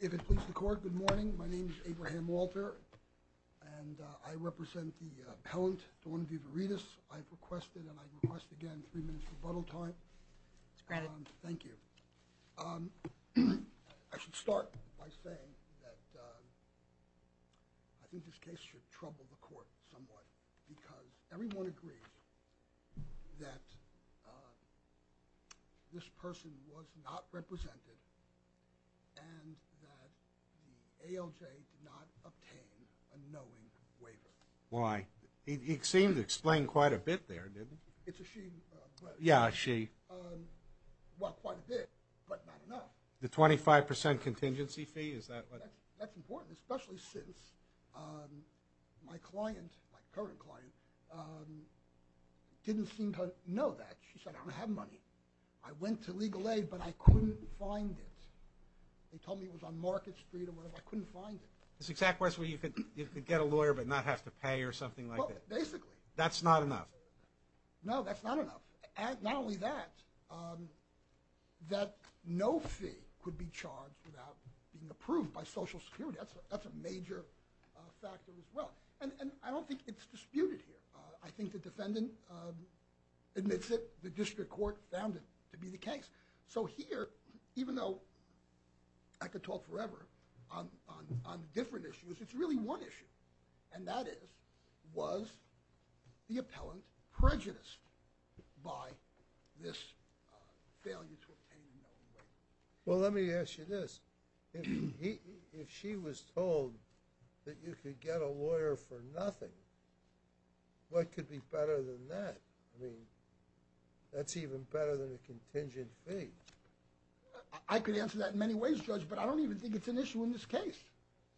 If it pleases the court, good morning. My name is Abraham Walter and I represent the appellant Dawn Vivaritas. I've requested and I request again three minutes rebuttal time. It's granted. Thank you. I should start by saying that I think this case should trouble the court somewhat because everyone agrees that this person was not represented and that the ALJ did not obtain a knowing waiver. Why? It seemed to explain quite a bit there, didn't it? It's a she. Yeah, a she. Well, quite a bit, but not enough. The 25% contingency fee, is that what? That's important, especially since my client, my current client, didn't seem to know that. She said, I don't have money. I went to Legal Aid, but I couldn't find it. They told me it was on Market Street or whatever. I couldn't find it. This exact question where you could get a lawyer but not have to pay or something like that. Well, basically. That's not enough. No, that's not enough. And not only that, that no fee could be charged without being approved by Social Security. That's a major factor as well. And I don't think it's disputed here. I think the defendant admits it. The district court found it to be the case. So here, even though I could talk forever on different issues, it's really one issue. And that is, was the appellant prejudiced by this failure to obtain a knowing waiver? Well, let me ask you this. If she was told that you could get a lawyer for nothing, what could be better than that? I mean, that's even better than a contingent fee. I could answer that in many ways, Judge, but I don't even think it's an issue in this case.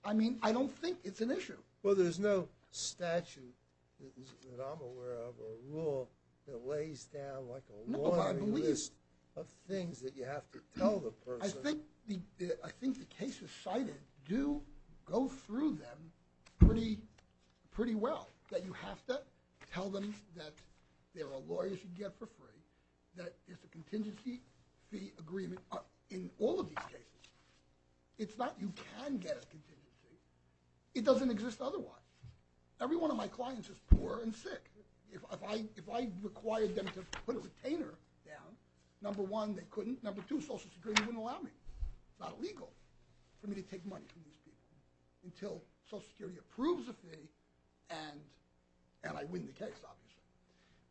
I mean, I don't think it's an issue. Well, there's no statute that I'm aware of or rule that lays down like a long list of things that you have to tell the person. I think the cases cited do go through them pretty well, that you have to tell them that there are lawyers you get for free, that there's a contingency fee agreement in all of these cases. It's not you can get a contingency. It doesn't exist otherwise. Every one of my clients is poor and sick. If I required them to put a retainer down, number one, they couldn't. Number two, Social Security wouldn't allow me. It's not illegal for me to take money from these people until Social Security approves the fee and I win the case, obviously.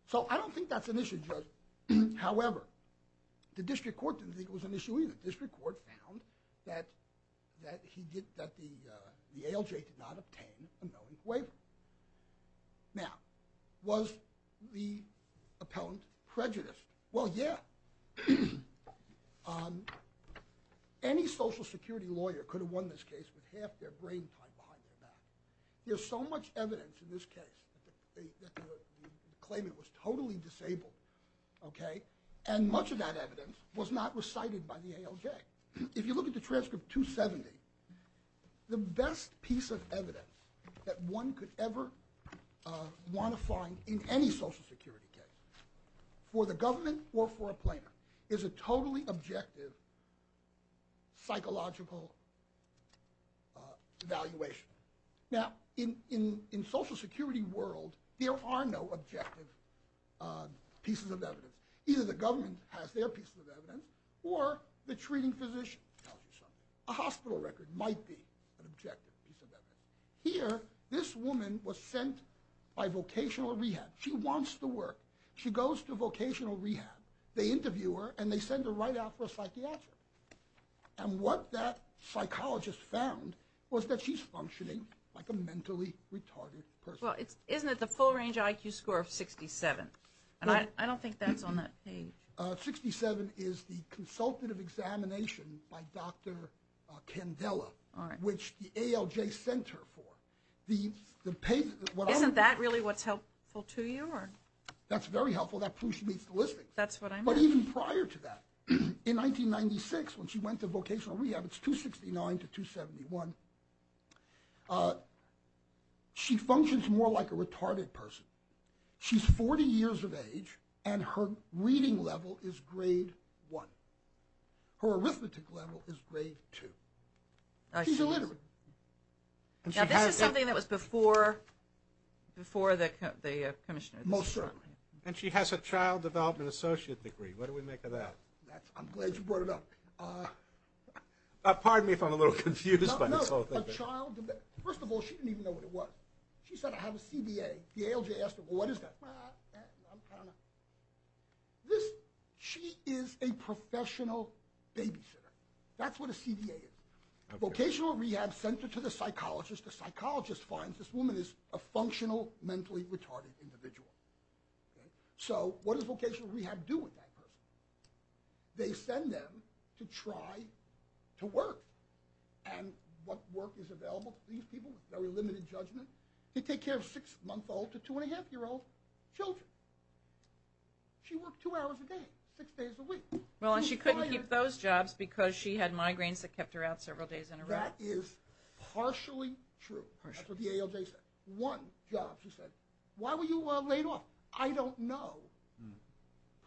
So, I don't think that's an issue, Judge. However, the District Court didn't think it was an issue either. The District Court found that the ALJ did not obtain a knowing waiver. Now, was the appellant prejudiced? Well, yeah. Any Social Security lawyer could have won this case with half their brain tied behind their back. There's so much evidence in this case that claim it was totally disabled, okay, and much of that evidence was not recited by the ALJ. Now, if you look at the transcript 270, the best piece of evidence that one could ever want to find in any Social Security case for the government or for a plainer is a totally objective psychological evaluation. Now, in Social Security world, there are no objective pieces of evidence. Either the government has their pieces of evidence or the treating physician tells you something. A hospital record might be an objective piece of evidence. Here, this woman was sent by vocational rehab. She wants to work. She goes to vocational rehab. They interview her and they send her right out for a psychiatric. And what that psychologist found was that she's functioning like a mentally retarded person. Well, isn't it the full range IQ score of 67? And I don't think that's on that page. 67 is the consultative examination by Dr. Candela, which the ALJ sent her for. Isn't that really what's helpful to you? That's very helpful. That proves she meets the listings. But even prior to that, in 1996, when she went to vocational rehab, it's 269 to 271, she functions more like a retarded person. She's 40 years of age and her reading level is grade one. Her arithmetic level is grade two. She's illiterate. Now, this is something that was before the commissioner. Most certainly. And she has a child development associate degree. What do we make of that? I'm glad you brought it up. Pardon me if I'm a little confused by this whole thing. First of all, she didn't even know what it was. She said, I have a CBA. The ALJ asked her, well, what is that? I don't know. She is a professional babysitter. That's what a CBA is. Vocational rehab sent her to the psychologist. The psychologist finds this woman is a functional, mentally retarded individual. So what does vocational rehab do with that person? They send them to try to work. And what work is available to these people with very limited judgment? They take care of six-month-old to two-and-a-half-year-old children. She worked two hours a day, six days a week. Well, and she couldn't keep those jobs because she had migraines that kept her out several days in a row. That is partially true. That's what the ALJ said. One job, she said, why were you laid off? I don't know.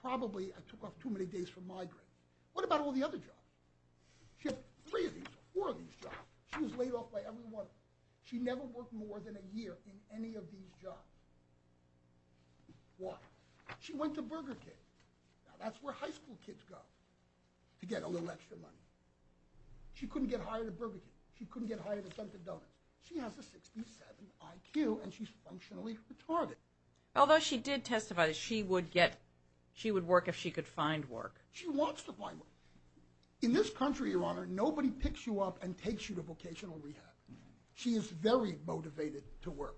Probably I took off too many days from migraine. What about all the other jobs? She had three of these or four of these jobs. She was laid off by everyone. She never worked more than a year in any of these jobs. Why? She went to Burger King. Now, that's where high school kids go to get a little extra money. She couldn't get hired at Burger King. She couldn't get hired at Dunkin' Donuts. She has a 67 IQ, and she's functionally retarded. Although she did testify that she would work if she could find work. She wants to find work. In this country, Your Honor, nobody picks you up and takes you to vocational rehab. She is very motivated to work.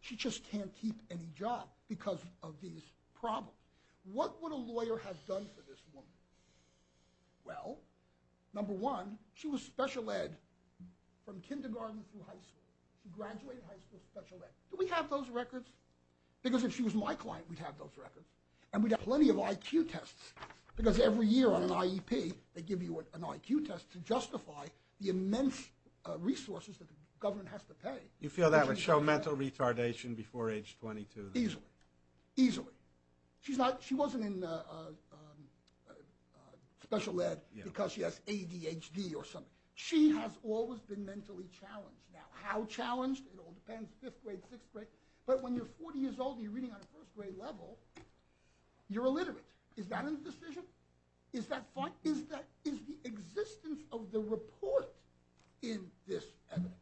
She just can't keep any job because of these problems. What would a lawyer have done for this woman? Well, number one, she was special ed from kindergarten through high school. She graduated high school special ed. Do we have those records? Because if she was my client, we'd have those records. And we'd have plenty of IQ tests because every year on an IEP, they give you an IQ test to justify the immense resources that the government has to pay. You feel that would show mental retardation before age 22? Easily. Easily. She wasn't in special ed because she has ADHD or something. She has always been mentally challenged. Now, how challenged? It all depends, fifth grade, sixth grade. But when you're 40 years old and you're reading on a first grade level, you're illiterate. Is that a decision? Is that fine? Is the existence of the report in this evidence?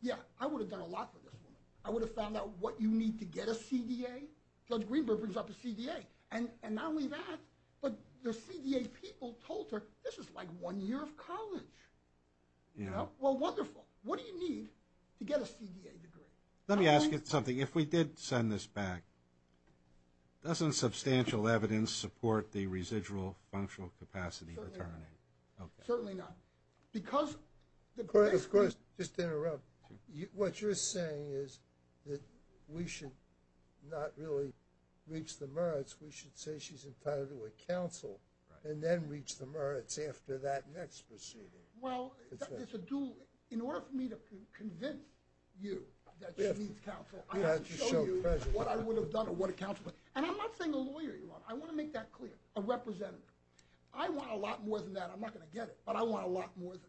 Yeah, I would have done a lot for this woman. I would have found out what you need to get a CDA. Judge Greenberg brings up a CDA. And not only that, but the CDA people told her, this is like one year of college. Yeah. Well, wonderful. What do you need to get a CDA degree? Let me ask you something. If we did send this back, doesn't substantial evidence support the residual functional capacity? Certainly not. Okay. Certainly not. Of course, just to interrupt, what you're saying is that we should not really reach the merits. We should say she's entitled to a counsel and then reach the merits after that next proceeding. Well, in order for me to convince you that she needs counsel, I have to show you what I would have done or what a counsel is. And I'm not saying a lawyer you want. I want to make that clear. A representative. I want a lot more than that. I'm not going to get it. But I want a lot more than that.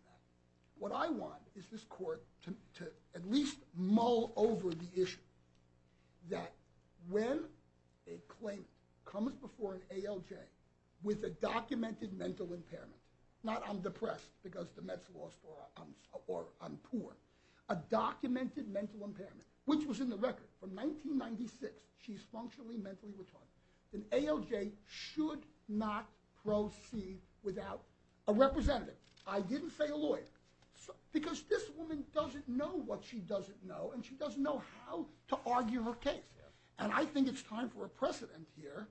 What I want is this court to at least mull over the issue that when a claim comes before an ALJ with a documented mental impairment, not I'm depressed because the meds lost or I'm poor, a documented mental impairment, which was in the record from 1996, she's functionally mentally retarded, an ALJ should not proceed without a representative. I didn't say a lawyer because this woman doesn't know what she doesn't know, and she doesn't know how to argue her case. And I think it's time for a precedent here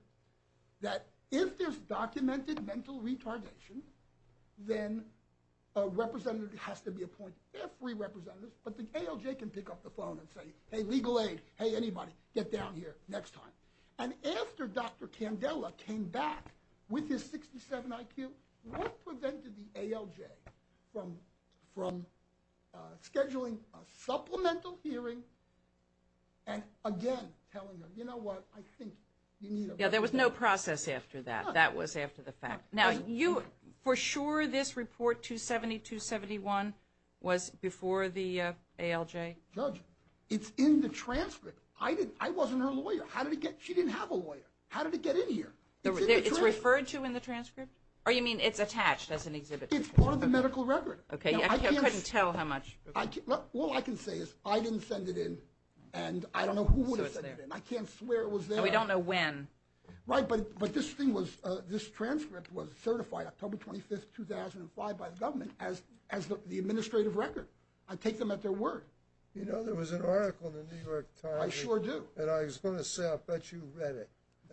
that if there's documented mental retardation, then a representative has to be appointed. There are free representatives, but the ALJ can pick up the phone and say, hey, legal aid, hey, anybody, get down here next time. And after Dr. Candela came back with his 67 IQ, what prevented the ALJ from scheduling a supplemental hearing and again telling them, you know what, I think you need a representative. Yeah, there was no process after that. That was after the fact. Now, for sure this report 270-271 was before the ALJ? Judge, it's in the transcript. I wasn't her lawyer. She didn't have a lawyer. How did it get in here? It's in the transcript. It's referred to in the transcript? Or you mean it's attached as an exhibit? It's part of the medical record. Okay, I couldn't tell how much. All I can say is I didn't send it in, and I don't know who would have sent it in. I can't swear it was there. We don't know when. Right, but this transcript was certified October 25, 2005 by the government as the administrative record. I take them at their word. You know, there was an article in the New York Times. I sure do. And I was going to say, I'll bet you read it.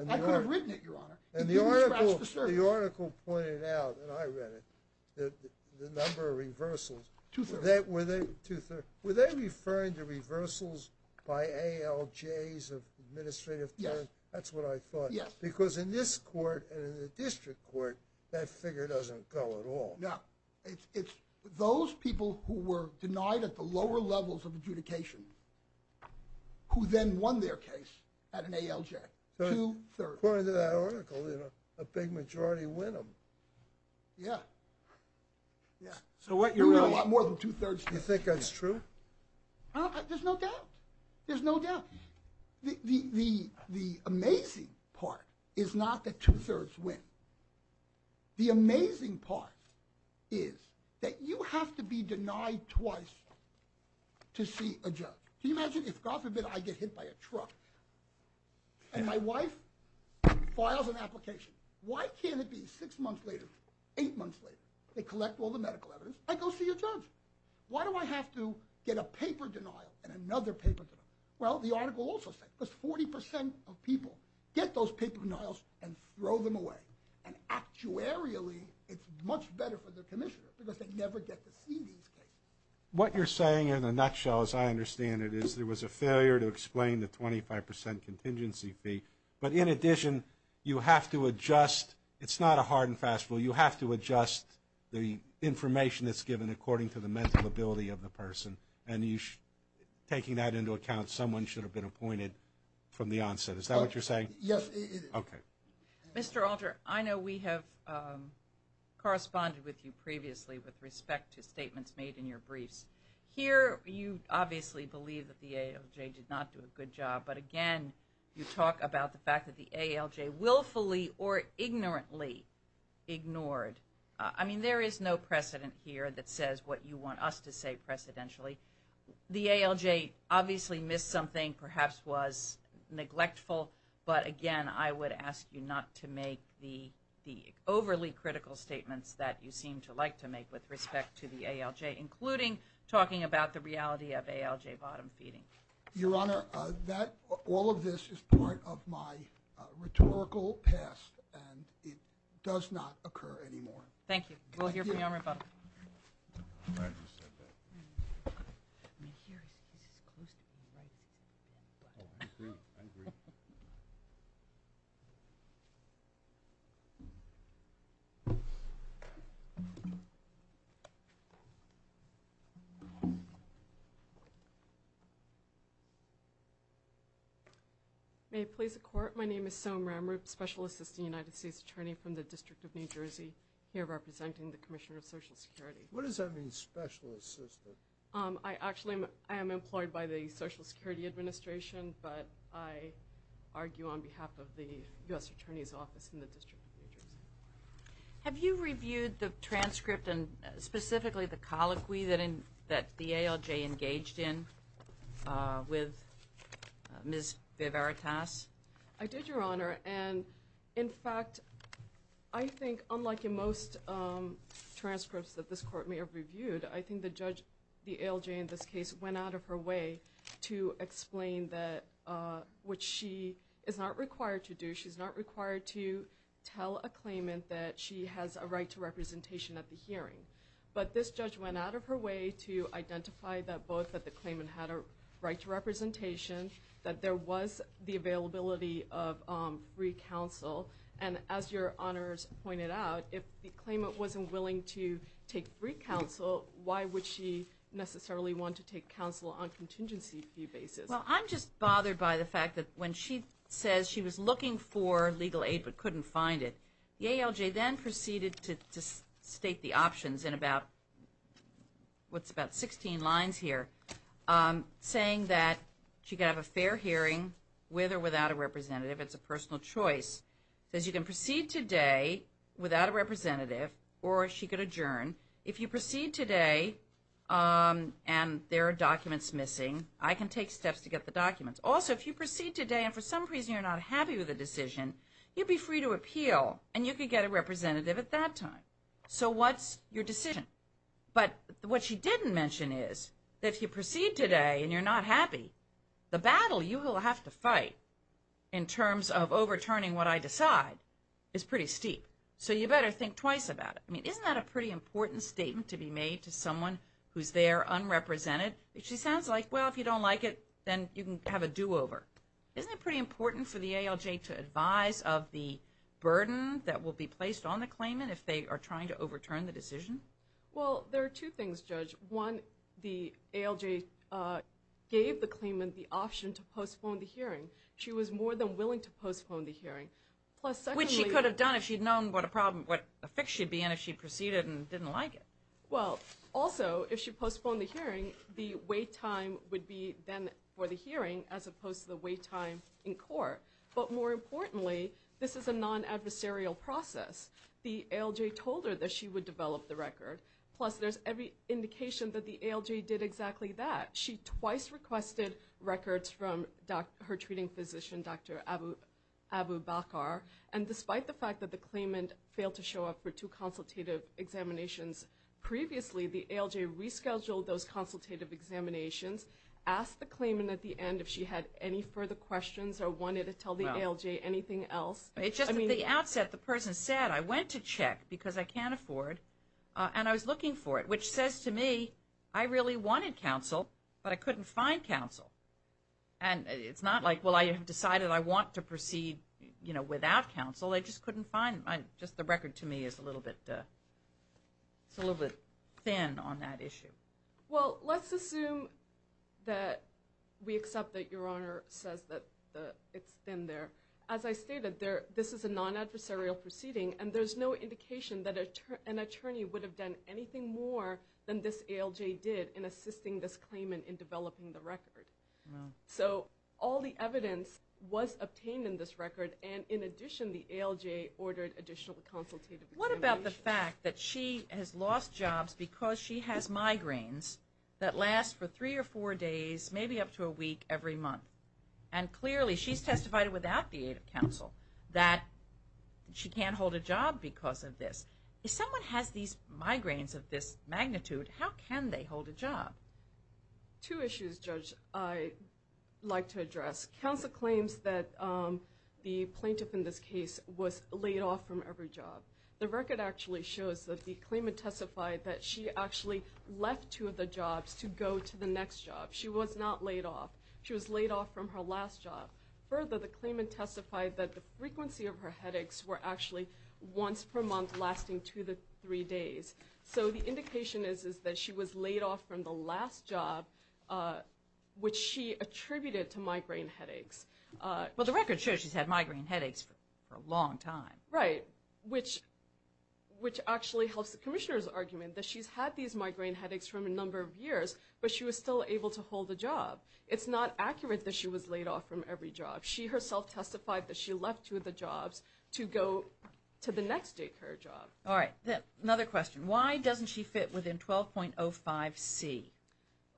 I could have written it, Your Honor. It didn't scratch the surface. The article pointed out, and I read it, the number of reversals. Two-thirds. Two-thirds. Were they referring to reversals by ALJs of administrative terms? Yes. That's what I thought. Yes. Because in this court and in the district court, that figure doesn't go at all. No. It's those people who were denied at the lower levels of adjudication who then won their case at an ALJ. Two-thirds. But according to that article, you know, a big majority win them. Yeah. Yeah. So what you're saying is you think that's true? There's no doubt. There's no doubt. The amazing part is not that two-thirds win. The amazing part is that you have to be denied twice to see a judge. Can you imagine if, God forbid, I get hit by a truck and my wife files an application, why can't it be six months later, eight months later, they collect all the medical evidence, I go see a judge? Why do I have to get a paper denial and another paper denial? Well, the article also said because 40 percent of people get those paper denials and throw them away. And actuarially, it's much better for the commissioner because they never get to see these cases. What you're saying in a nutshell, as I understand it, is there was a failure to explain the 25 percent contingency fee. But in addition, you have to adjust. It's not a hard and fast rule. You have to adjust the information that's given according to the mental ability of the person. And taking that into account, someone should have been appointed from the onset. Is that what you're saying? Yes. Okay. Mr. Alter, I know we have corresponded with you previously with respect to statements made in your briefs. Here, you obviously believe that the ALJ did not do a good job. But again, you talk about the fact that the ALJ willfully or ignorantly ignored. I mean, there is no precedent here that says what you want us to say precedentially. The ALJ obviously missed something, perhaps was neglectful. But again, I would ask you not to make the overly critical statements that you seem to like to make with respect to the ALJ, including talking about the reality of ALJ bottom feeding. Your Honor, all of this is part of my rhetorical past, and it does not occur anymore. Thank you. We'll hear from you on rebuttal. I just said that. I mean, here, he's as close to being right as he can get. Oh, I agree. I agree. May it please the Court. My name is Somra. I'm a Special Assistant United States Attorney from the District of New Jersey, here representing the Commissioner of Social Security. What does that mean, Special Assistant? I actually am employed by the Social Security Administration, but I argue on behalf of the U.S. Attorney's Office in the District of New Jersey. Have you reviewed the transcript and specifically the colloquy that the ALJ engaged in with Ms. Viveritas? I did, Your Honor, and in fact, I think, unlike in most transcripts that this Court may have reviewed, I think the judge, the ALJ in this case, went out of her way to explain what she is not required to do. She's not required to tell a claimant that she has a right to representation at the hearing. But this judge went out of her way to identify that both that the claimant had a right to representation, that there was the availability of free counsel, and as Your Honors pointed out, if the claimant wasn't willing to take free counsel, why would she necessarily want to take counsel on a contingency basis? Well, I'm just bothered by the fact that when she says she was looking for legal aid but couldn't find it, the ALJ then proceeded to state the options in about 16 lines here, saying that she could have a fair hearing with or without a representative. It's a personal choice. It says you can proceed today without a representative or she could adjourn. If you proceed today and there are documents missing, I can take steps to get the documents. Also, if you proceed today and for some reason you're not happy with the decision, you'd be free to appeal and you could get a representative at that time. So what's your decision? But what she didn't mention is that if you proceed today and you're not happy, the battle you will have to fight in terms of overturning what I decide is pretty steep. So you better think twice about it. I mean, isn't that a pretty important statement to be made to someone who's there unrepresented? She sounds like, well, if you don't like it, then you can have a do-over. Isn't it pretty important for the ALJ to advise of the burden that will be placed on the claimant if they are trying to overturn the decision? Well, there are two things, Judge. One, the ALJ gave the claimant the option to postpone the hearing. She was more than willing to postpone the hearing. Which she could have done if she'd known what a fix she'd be in if she proceeded and didn't like it. Well, also, if she postponed the hearing, the wait time would be then for the hearing as opposed to the wait time in court. But more importantly, this is a non-adversarial process. The ALJ told her that she would develop the record. Plus, there's every indication that the ALJ did exactly that. She twice requested records from her treating physician, Dr. Abu Bakar. And despite the fact that the claimant failed to show up for two consultative examinations previously, the ALJ rescheduled those consultative examinations, asked the claimant at the end if she had any further questions or wanted to tell the ALJ anything else. It's just at the outset, the person said, I went to check because I can't afford, and I was looking for it. Which says to me, I really wanted counsel, but I couldn't find counsel. And it's not like, well, I have decided I want to proceed without counsel. I just couldn't find it. Just the record to me is a little bit thin on that issue. Well, let's assume that we accept that Your Honor says that it's thin there. As I stated, this is a non-adversarial proceeding, and there's no indication that an attorney would have done anything more than this ALJ did in assisting this claimant in developing the record. So all the evidence was obtained in this record, and in addition, the ALJ ordered additional consultative examinations. What about the fact that she has lost jobs because she has migraines that last for three or four days, maybe up to a week every month? And clearly, she's testified without the aid of counsel that she can't hold a job because of this. If someone has these migraines of this magnitude, how can they hold a job? Two issues, Judge, I'd like to address. Counsel claims that the plaintiff in this case was laid off from every job. The record actually shows that the claimant testified that she actually left two of the jobs to go to the next job. She was not laid off. She was laid off from her last job. Further, the claimant testified that the frequency of her headaches were actually once per month lasting two to three days. So the indication is that she was laid off from the last job, which she attributed to migraine headaches. Well, the record shows she's had migraine headaches for a long time. Right, which actually helps the commissioner's argument that she's had these migraine headaches for a number of years, It's not accurate that she was laid off from every job. She herself testified that she left two of the jobs to go to the next day of her job. All right. Another question. Why doesn't she fit within 12.05c?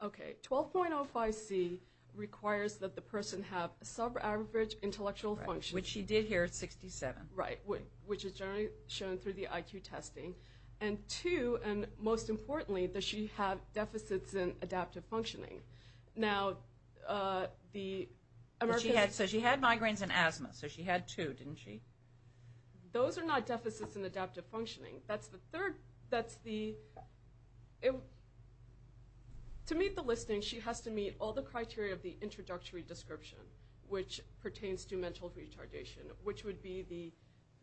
Okay. 12.05c requires that the person have a sub-average intellectual function. Which she did here at 67. Right, which is generally shown through the IQ testing. And two, and most importantly, that she had deficits in adaptive functioning. So she had migraines and asthma, so she had two, didn't she? Those are not deficits in adaptive functioning. That's the third. To meet the listing, she has to meet all the criteria of the introductory description, which pertains to mental retardation, which would be the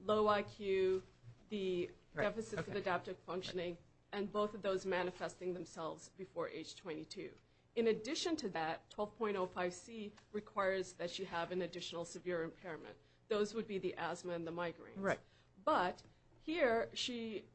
low IQ, the deficits in adaptive functioning, and both of those manifesting themselves before age 22. In addition to that, 12.05c requires that she have an additional severe impairment. Those would be the asthma and the migraines. Right. But here she,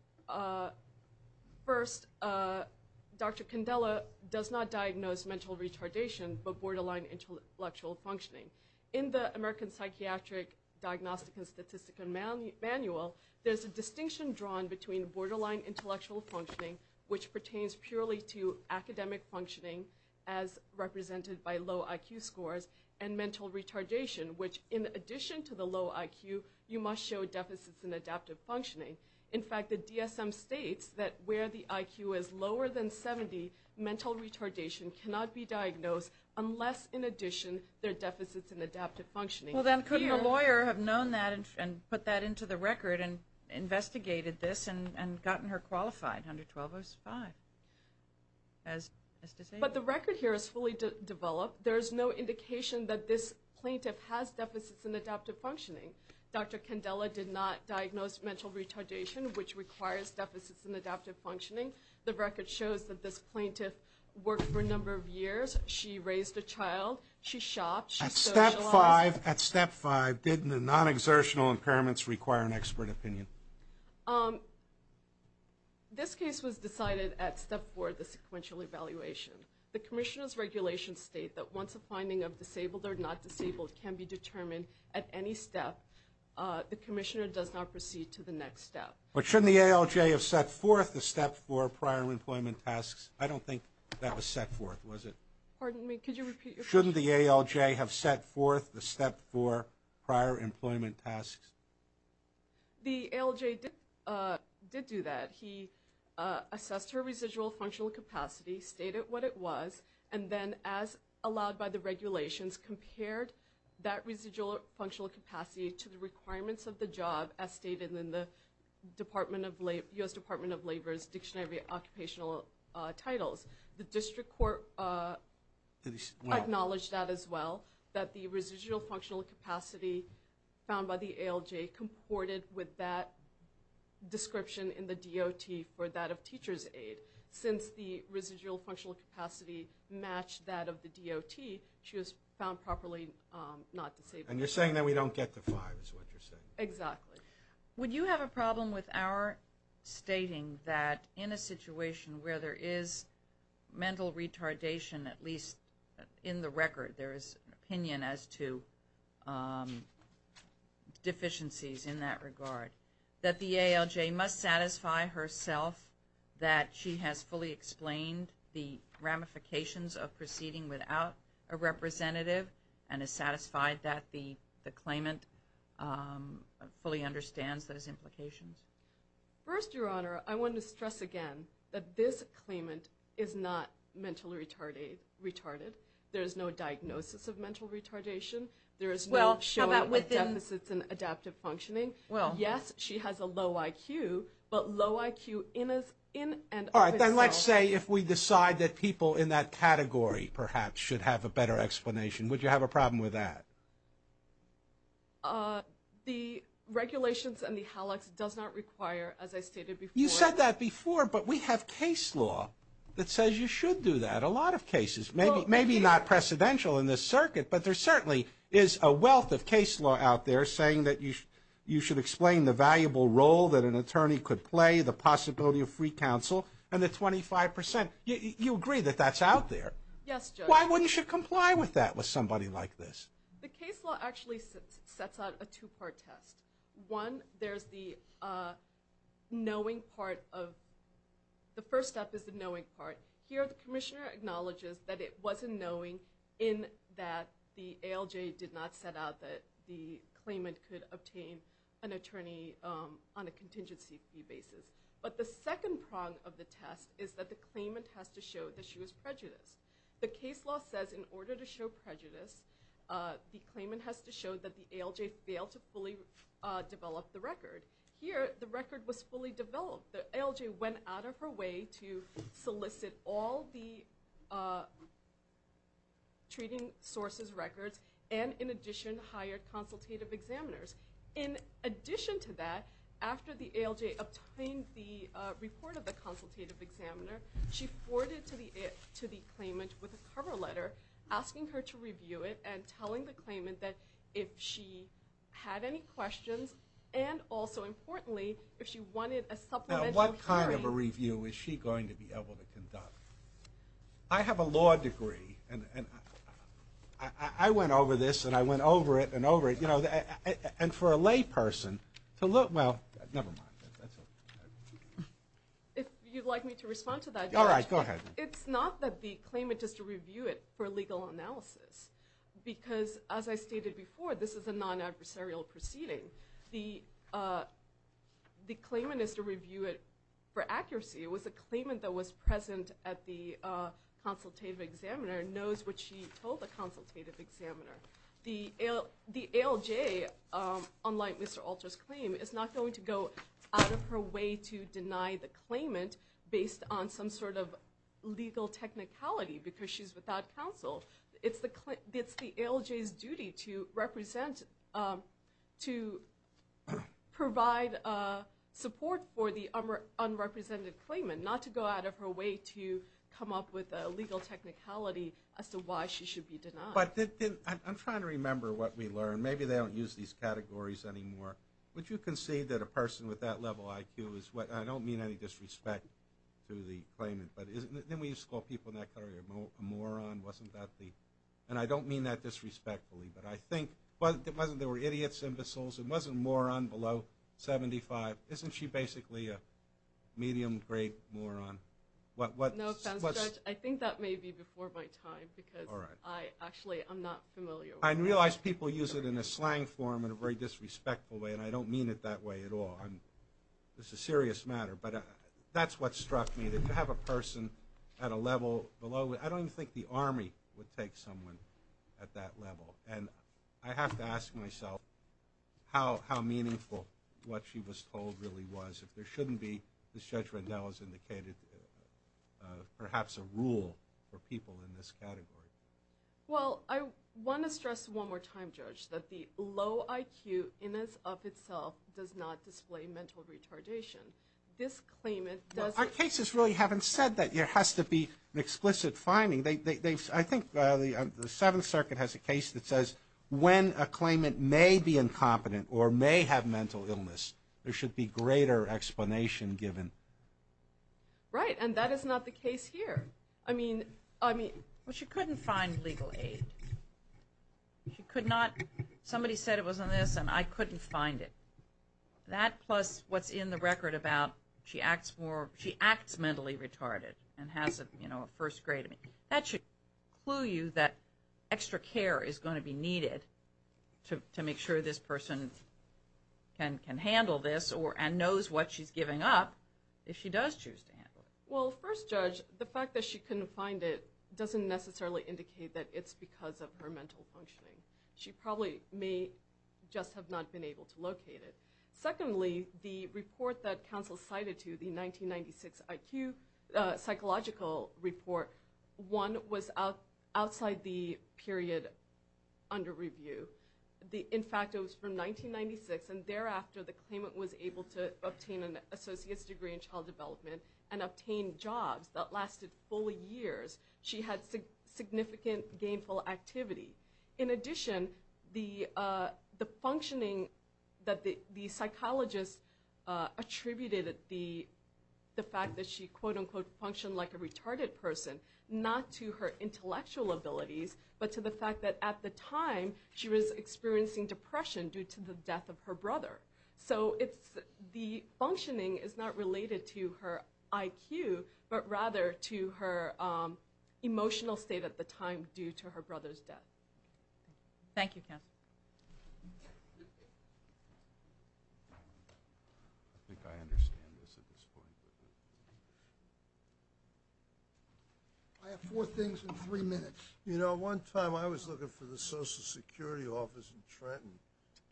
first, Dr. Candela does not diagnose mental retardation, but borderline intellectual functioning. In the American Psychiatric Diagnostic and Statistical Manual, there's a distinction drawn between borderline intellectual functioning, which pertains purely to academic functioning, as represented by low IQ scores, and mental retardation, which in addition to the low IQ, you must show deficits in adaptive functioning. In fact, the DSM states that where the IQ is lower than 70, mental retardation cannot be diagnosed unless, in addition, there are deficits in adaptive functioning. Well, then couldn't a lawyer have known that and put that into the record and investigated this and gotten her qualified under 12.05 as disabled? But the record here is fully developed. There is no indication that this plaintiff has deficits in adaptive functioning. Dr. Candela did not diagnose mental retardation, which requires deficits in adaptive functioning. The record shows that this plaintiff worked for a number of years. She raised a child. She shopped. At Step 5, didn't the non-exertional impairments require an expert opinion? This case was decided at Step 4, the sequential evaluation. The commissioner's regulations state that once a finding of disabled or not disabled can be determined at any step, the commissioner does not proceed to the next step. But shouldn't the ALJ have set forth the Step 4 prior employment tasks? I don't think that was set forth, was it? Pardon me? Could you repeat your question? Shouldn't the ALJ have set forth the Step 4 prior employment tasks? The ALJ did do that. He assessed her residual functional capacity, stated what it was, and then, as allowed by the regulations, compared that residual functional capacity to the requirements of the job, as stated in the U.S. Department of Labor's Dictionary of Occupational Titles. The district court acknowledged that as well, that the residual functional capacity found by the ALJ comported with that description in the DOT for that of teacher's aid. Since the residual functional capacity matched that of the DOT, she was found properly not disabled. And you're saying that we don't get to 5 is what you're saying. Exactly. Would you have a problem with our stating that in a situation where there is mental retardation, at least in the record, there is an opinion as to deficiencies in that regard, that the ALJ must satisfy herself that she has fully explained the ramifications of proceeding without a representative and is satisfied that the claimant fully understands those implications? First, Your Honor, I want to stress again that this claimant is not mentally retarded. There is no diagnosis of mental retardation. There is no showing of deficits in adaptive functioning. Yes, she has a low IQ, but low IQ in and of itself. All right. Would you have a problem with that? The regulations and the HALACs does not require, as I stated before. You said that before, but we have case law that says you should do that, a lot of cases, maybe not precedential in this circuit, but there certainly is a wealth of case law out there saying that you should explain the valuable role that an attorney could play, the possibility of free counsel, and the 25%. You agree that that's out there? Yes, Judge. Why wouldn't you comply with that with somebody like this? The case law actually sets out a two-part test. One, there's the knowing part of the first step is the knowing part. Here, the commissioner acknowledges that it wasn't knowing in that the ALJ did not set out that the claimant could obtain an attorney on a contingency fee basis. But the second prong of the test is that the claimant has to show that she was prejudiced. The case law says in order to show prejudice, the claimant has to show that the ALJ failed to fully develop the record. Here, the record was fully developed. The ALJ went out of her way to solicit all the treating sources' records and, in addition, hired consultative examiners. In addition to that, after the ALJ obtained the report of the consultative examiner, she forwarded it to the claimant with a cover letter asking her to review it and telling the claimant that if she had any questions and, also importantly, if she wanted a supplemental hearing. Now, what kind of a review is she going to be able to conduct? I have a law degree, and I went over this and I went over it and over it. And for a lay person to look, well, never mind. If you'd like me to respond to that. All right, go ahead. It's not that the claimant has to review it for legal analysis because, as I stated before, this is a non-adversarial proceeding. The claimant has to review it for accuracy. It was a claimant that was present at the consultative examiner and knows what she told the consultative examiner. The ALJ, unlike Mr. Alter's claim, is not going to go out of her way to deny the claimant based on some sort of legal technicality because she's without counsel. It's the ALJ's duty to represent, to provide support for the unrepresented claimant, not to go out of her way to come up with a legal technicality as to why she should be denied. But I'm trying to remember what we learned. Maybe they don't use these categories anymore. Would you concede that a person with that level IQ is what – I don't mean any disrespect to the claimant, but didn't we use to call people in that category a moron? Wasn't that the – and I don't mean that disrespectfully, but I think – wasn't there were idiots, imbeciles? It wasn't moron below 75? Isn't she basically a medium-grade moron? What – Judge, I think that may be before my time because I actually am not familiar with that. I realize people use it in a slang form in a very disrespectful way, and I don't mean it that way at all. This is a serious matter. But that's what struck me, that you have a person at a level below – I don't even think the Army would take someone at that level. And I have to ask myself how meaningful what she was told really was. If there shouldn't be, as Judge Rendell has indicated, perhaps a rule for people in this category. Well, I want to stress one more time, Judge, that the low IQ in and of itself does not display mental retardation. This claimant does – Our cases really haven't said that. There has to be an explicit finding. I think the Seventh Circuit has a case that says when a claimant may be incompetent or may have mental illness, there should be greater explanation given. Right, and that is not the case here. I mean – Well, she couldn't find legal aid. She could not – somebody said it was on this, and I couldn't find it. That plus what's in the record about she acts more – she acts mentally retarded and has, you know, a first grade. That should clue you that extra care is going to be needed to make sure this person can handle this and knows what she's giving up if she does choose to handle it. Well, first, Judge, the fact that she couldn't find it doesn't necessarily indicate that it's because of her mental functioning. She probably may just have not been able to locate it. Secondly, the report that counsel cited to, the 1996 IQ psychological report, one was outside the period under review. In fact, it was from 1996, and thereafter, the claimant was able to obtain an associate's degree in child development and obtain jobs that lasted full years. She had significant gainful activity. In addition, the functioning that the psychologist attributed the fact that she, quote-unquote, functioned like a retarded person, not to her intellectual abilities, but to the fact that at the time she was experiencing depression due to the death of her brother. So the functioning is not related to her IQ, but rather to her emotional state at the time due to her brother's death. Thank you, counsel. I have four things in three minutes. You know, one time I was looking for the Social Security office in Trenton,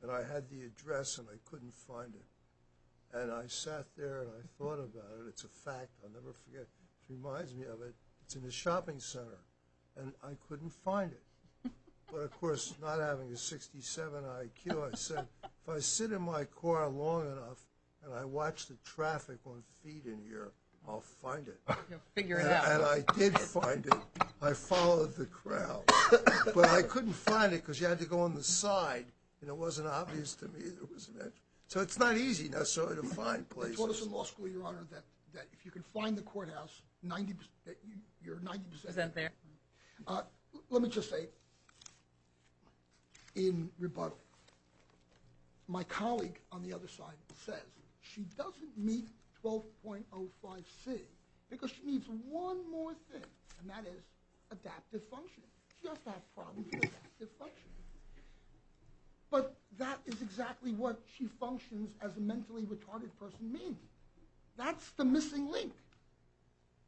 and I had the address and I couldn't find it. And I sat there and I thought about it. It's a fact I'll never forget. It reminds me of it. It's in a shopping center, and I couldn't find it. But, of course, not having a 67 IQ, I said, if I sit in my car long enough and I watch the traffic on feet in here, I'll find it. And I did find it. I followed the crowd. But I couldn't find it because you had to go on the side, and it wasn't obvious to me. So it's not easy necessarily to find places. I taught us in law school, Your Honor, that if you can find the courthouse, you're 90% there. Let me just say, in rebuttal, my colleague on the other side says she doesn't meet 12.05C because she needs one more thing, and that is adaptive functioning. She has to have problems with adaptive functioning. But that is exactly what she functions as a mentally retarded person means. That's the missing link.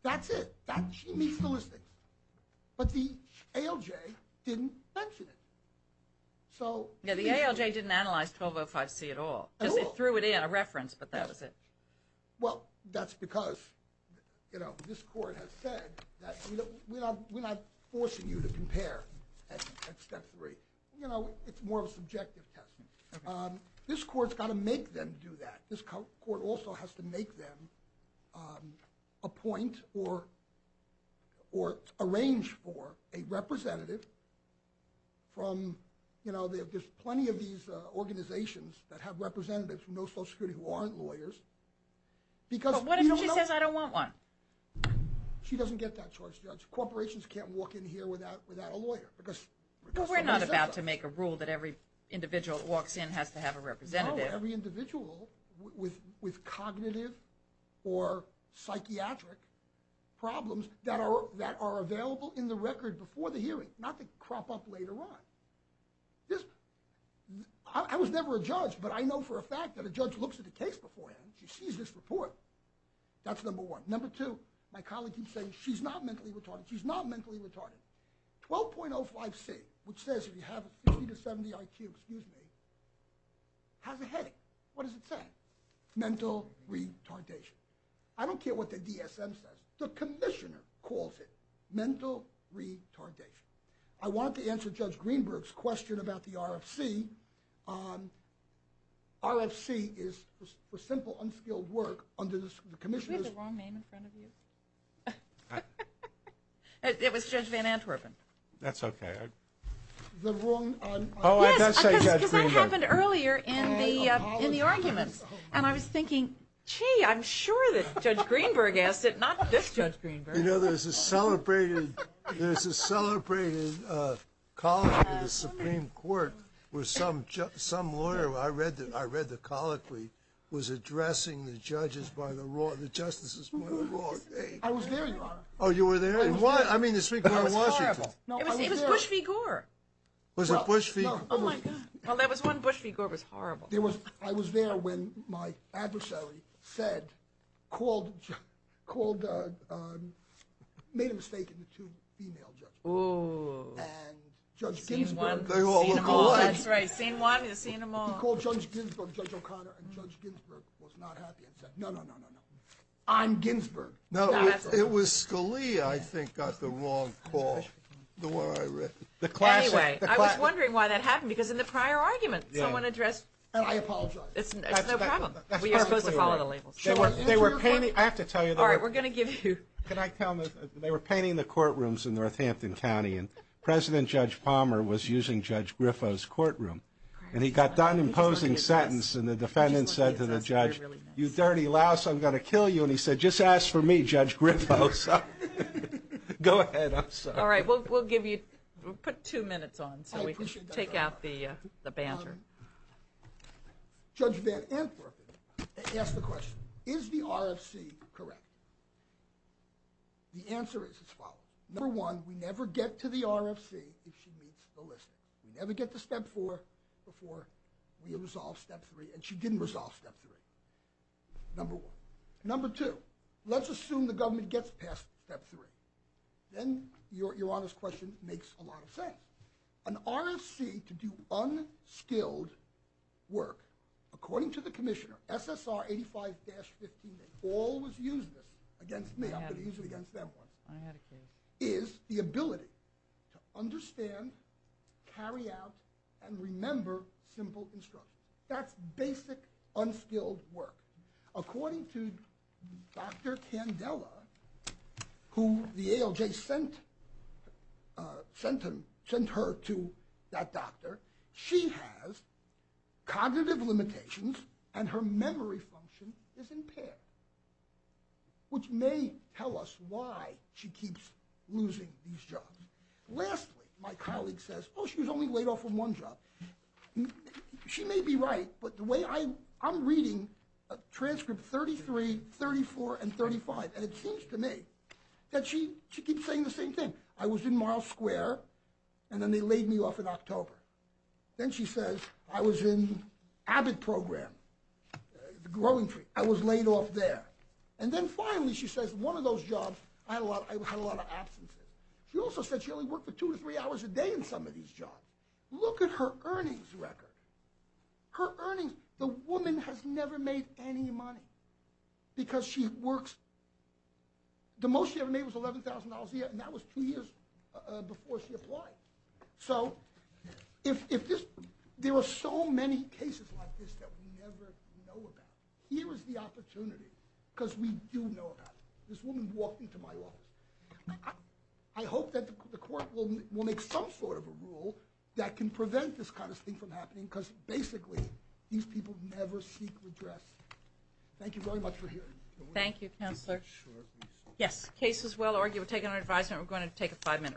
That's it. She meets the listings. But the ALJ didn't mention it. Yeah, the ALJ didn't analyze 12.05C at all. They threw it in, a reference, but that was it. Well, that's because, you know, this court has said that we're not forcing you to compare at step three. You know, it's more of a subjective test. This court's got to make them do that. This court also has to make them appoint or arrange for a representative from, you know, there's plenty of these organizations that have representatives who know Social Security who aren't lawyers. But what if she says I don't want one? She doesn't get that charge, Judge. Corporations can't walk in here without a lawyer. But we're not about to make a rule that every individual that walks in has to have a representative. No, every individual with cognitive or psychiatric problems that are available in the record before the hearing, not to crop up later on. I was never a judge, but I know for a fact that a judge looks at a case beforehand and she sees this report. That's number one. Number two, my colleague keeps saying she's not mentally retarded. She's not mentally retarded. 12.05C, which says if you have a 50 to 70 IQ, excuse me, has a headache. What does it say? Mental retardation. I don't care what the DSM says. The commissioner calls it mental retardation. I want to answer Judge Greenberg's question about the RFC. RFC is for simple, unskilled work under the commissioners. Did we have the wrong name in front of you? It was Judge Van Antwerpen. That's okay. Oh, I thought you said Judge Greenberg. Yes, because that happened earlier in the arguments, and I was thinking, gee, I'm sure that Judge Greenberg asked it, not this Judge Greenberg. You know, there's a celebrated colloquy in the Supreme Court where some lawyer, I read the colloquy, was addressing the judges by the law, the justices by the law. I was there, Your Honor. Oh, you were there? I mean the Supreme Court of Washington. It was Bush v. Gore. Was it Bush v. Gore? Oh, my God. Well, there was one Bush v. Gore. It was horrible. I was there when my adversary said, called, made a mistake in the two female judges. Oh. And Judge Ginsburg. They all look alike. That's right. Scene one, scene them all. He called Judge Ginsburg, Judge O'Connor, and Judge Ginsburg was not happy and said, no, no, no, no, no. I'm Ginsburg. No, it was Scalia, I think, got the wrong call, the one I read. Anyway, I was wondering why that happened, because in the prior argument someone addressed and I apologize. It's no problem. We are supposed to follow the labels. They were painting, I have to tell you. All right, we're going to give you. Can I tell them, they were painting the courtrooms in Northampton County and President Judge Palmer was using Judge Griffo's courtroom and he got done imposing sentence and the defendant said to the judge, you dirty louse, I'm going to kill you, and he said, just ask for me, Judge Griffo. So go ahead, I'm sorry. All right, we'll give you, put two minutes on so we can take out the banter. Judge Van Antwerpen asked the question, is the RFC correct? The answer is as follows. Number one, we never get to the RFC if she meets the listing. We never get to step four before we resolve step three, and she didn't resolve step three, number one. Number two, let's assume the government gets past step three. Then your honest question makes a lot of sense. An RFC to do unskilled work, according to the commissioner, SSR 85-15, they always use this against me, I've been using it against them once, is the ability to understand, carry out, and remember simple instructions. That's basic unskilled work. According to Dr. Candela, who the ALJ sent her to that doctor, she has cognitive limitations and her memory function is impaired, which may tell us why she keeps losing these jobs. Lastly, my colleague says, oh, she was only laid off from one job. She may be right, but the way I'm reading transcript 33, 34, and 35, and it seems to me that she keeps saying the same thing. I was in Miles Square, and then they laid me off in October. Then she says I was in Abbott Program, the growing tree. I was laid off there. And then finally she says one of those jobs, I had a lot of absences. She also said she only worked for two to three hours a day in some of these jobs. Look at her earnings record. Her earnings, the woman has never made any money because she works. The most she ever made was $11,000 a year, and that was two years before she applied. So if this, there are so many cases like this that we never know about. Here is the opportunity because we do know about it. This woman walked into my office. I hope that the court will make some sort of a rule that can prevent this kind of thing from happening because basically these people never seek redress. Thank you very much for hearing me. Thank you, Counselor. Yes, case is well argued. We're taking our advisement. We're going to take a five-minute recess.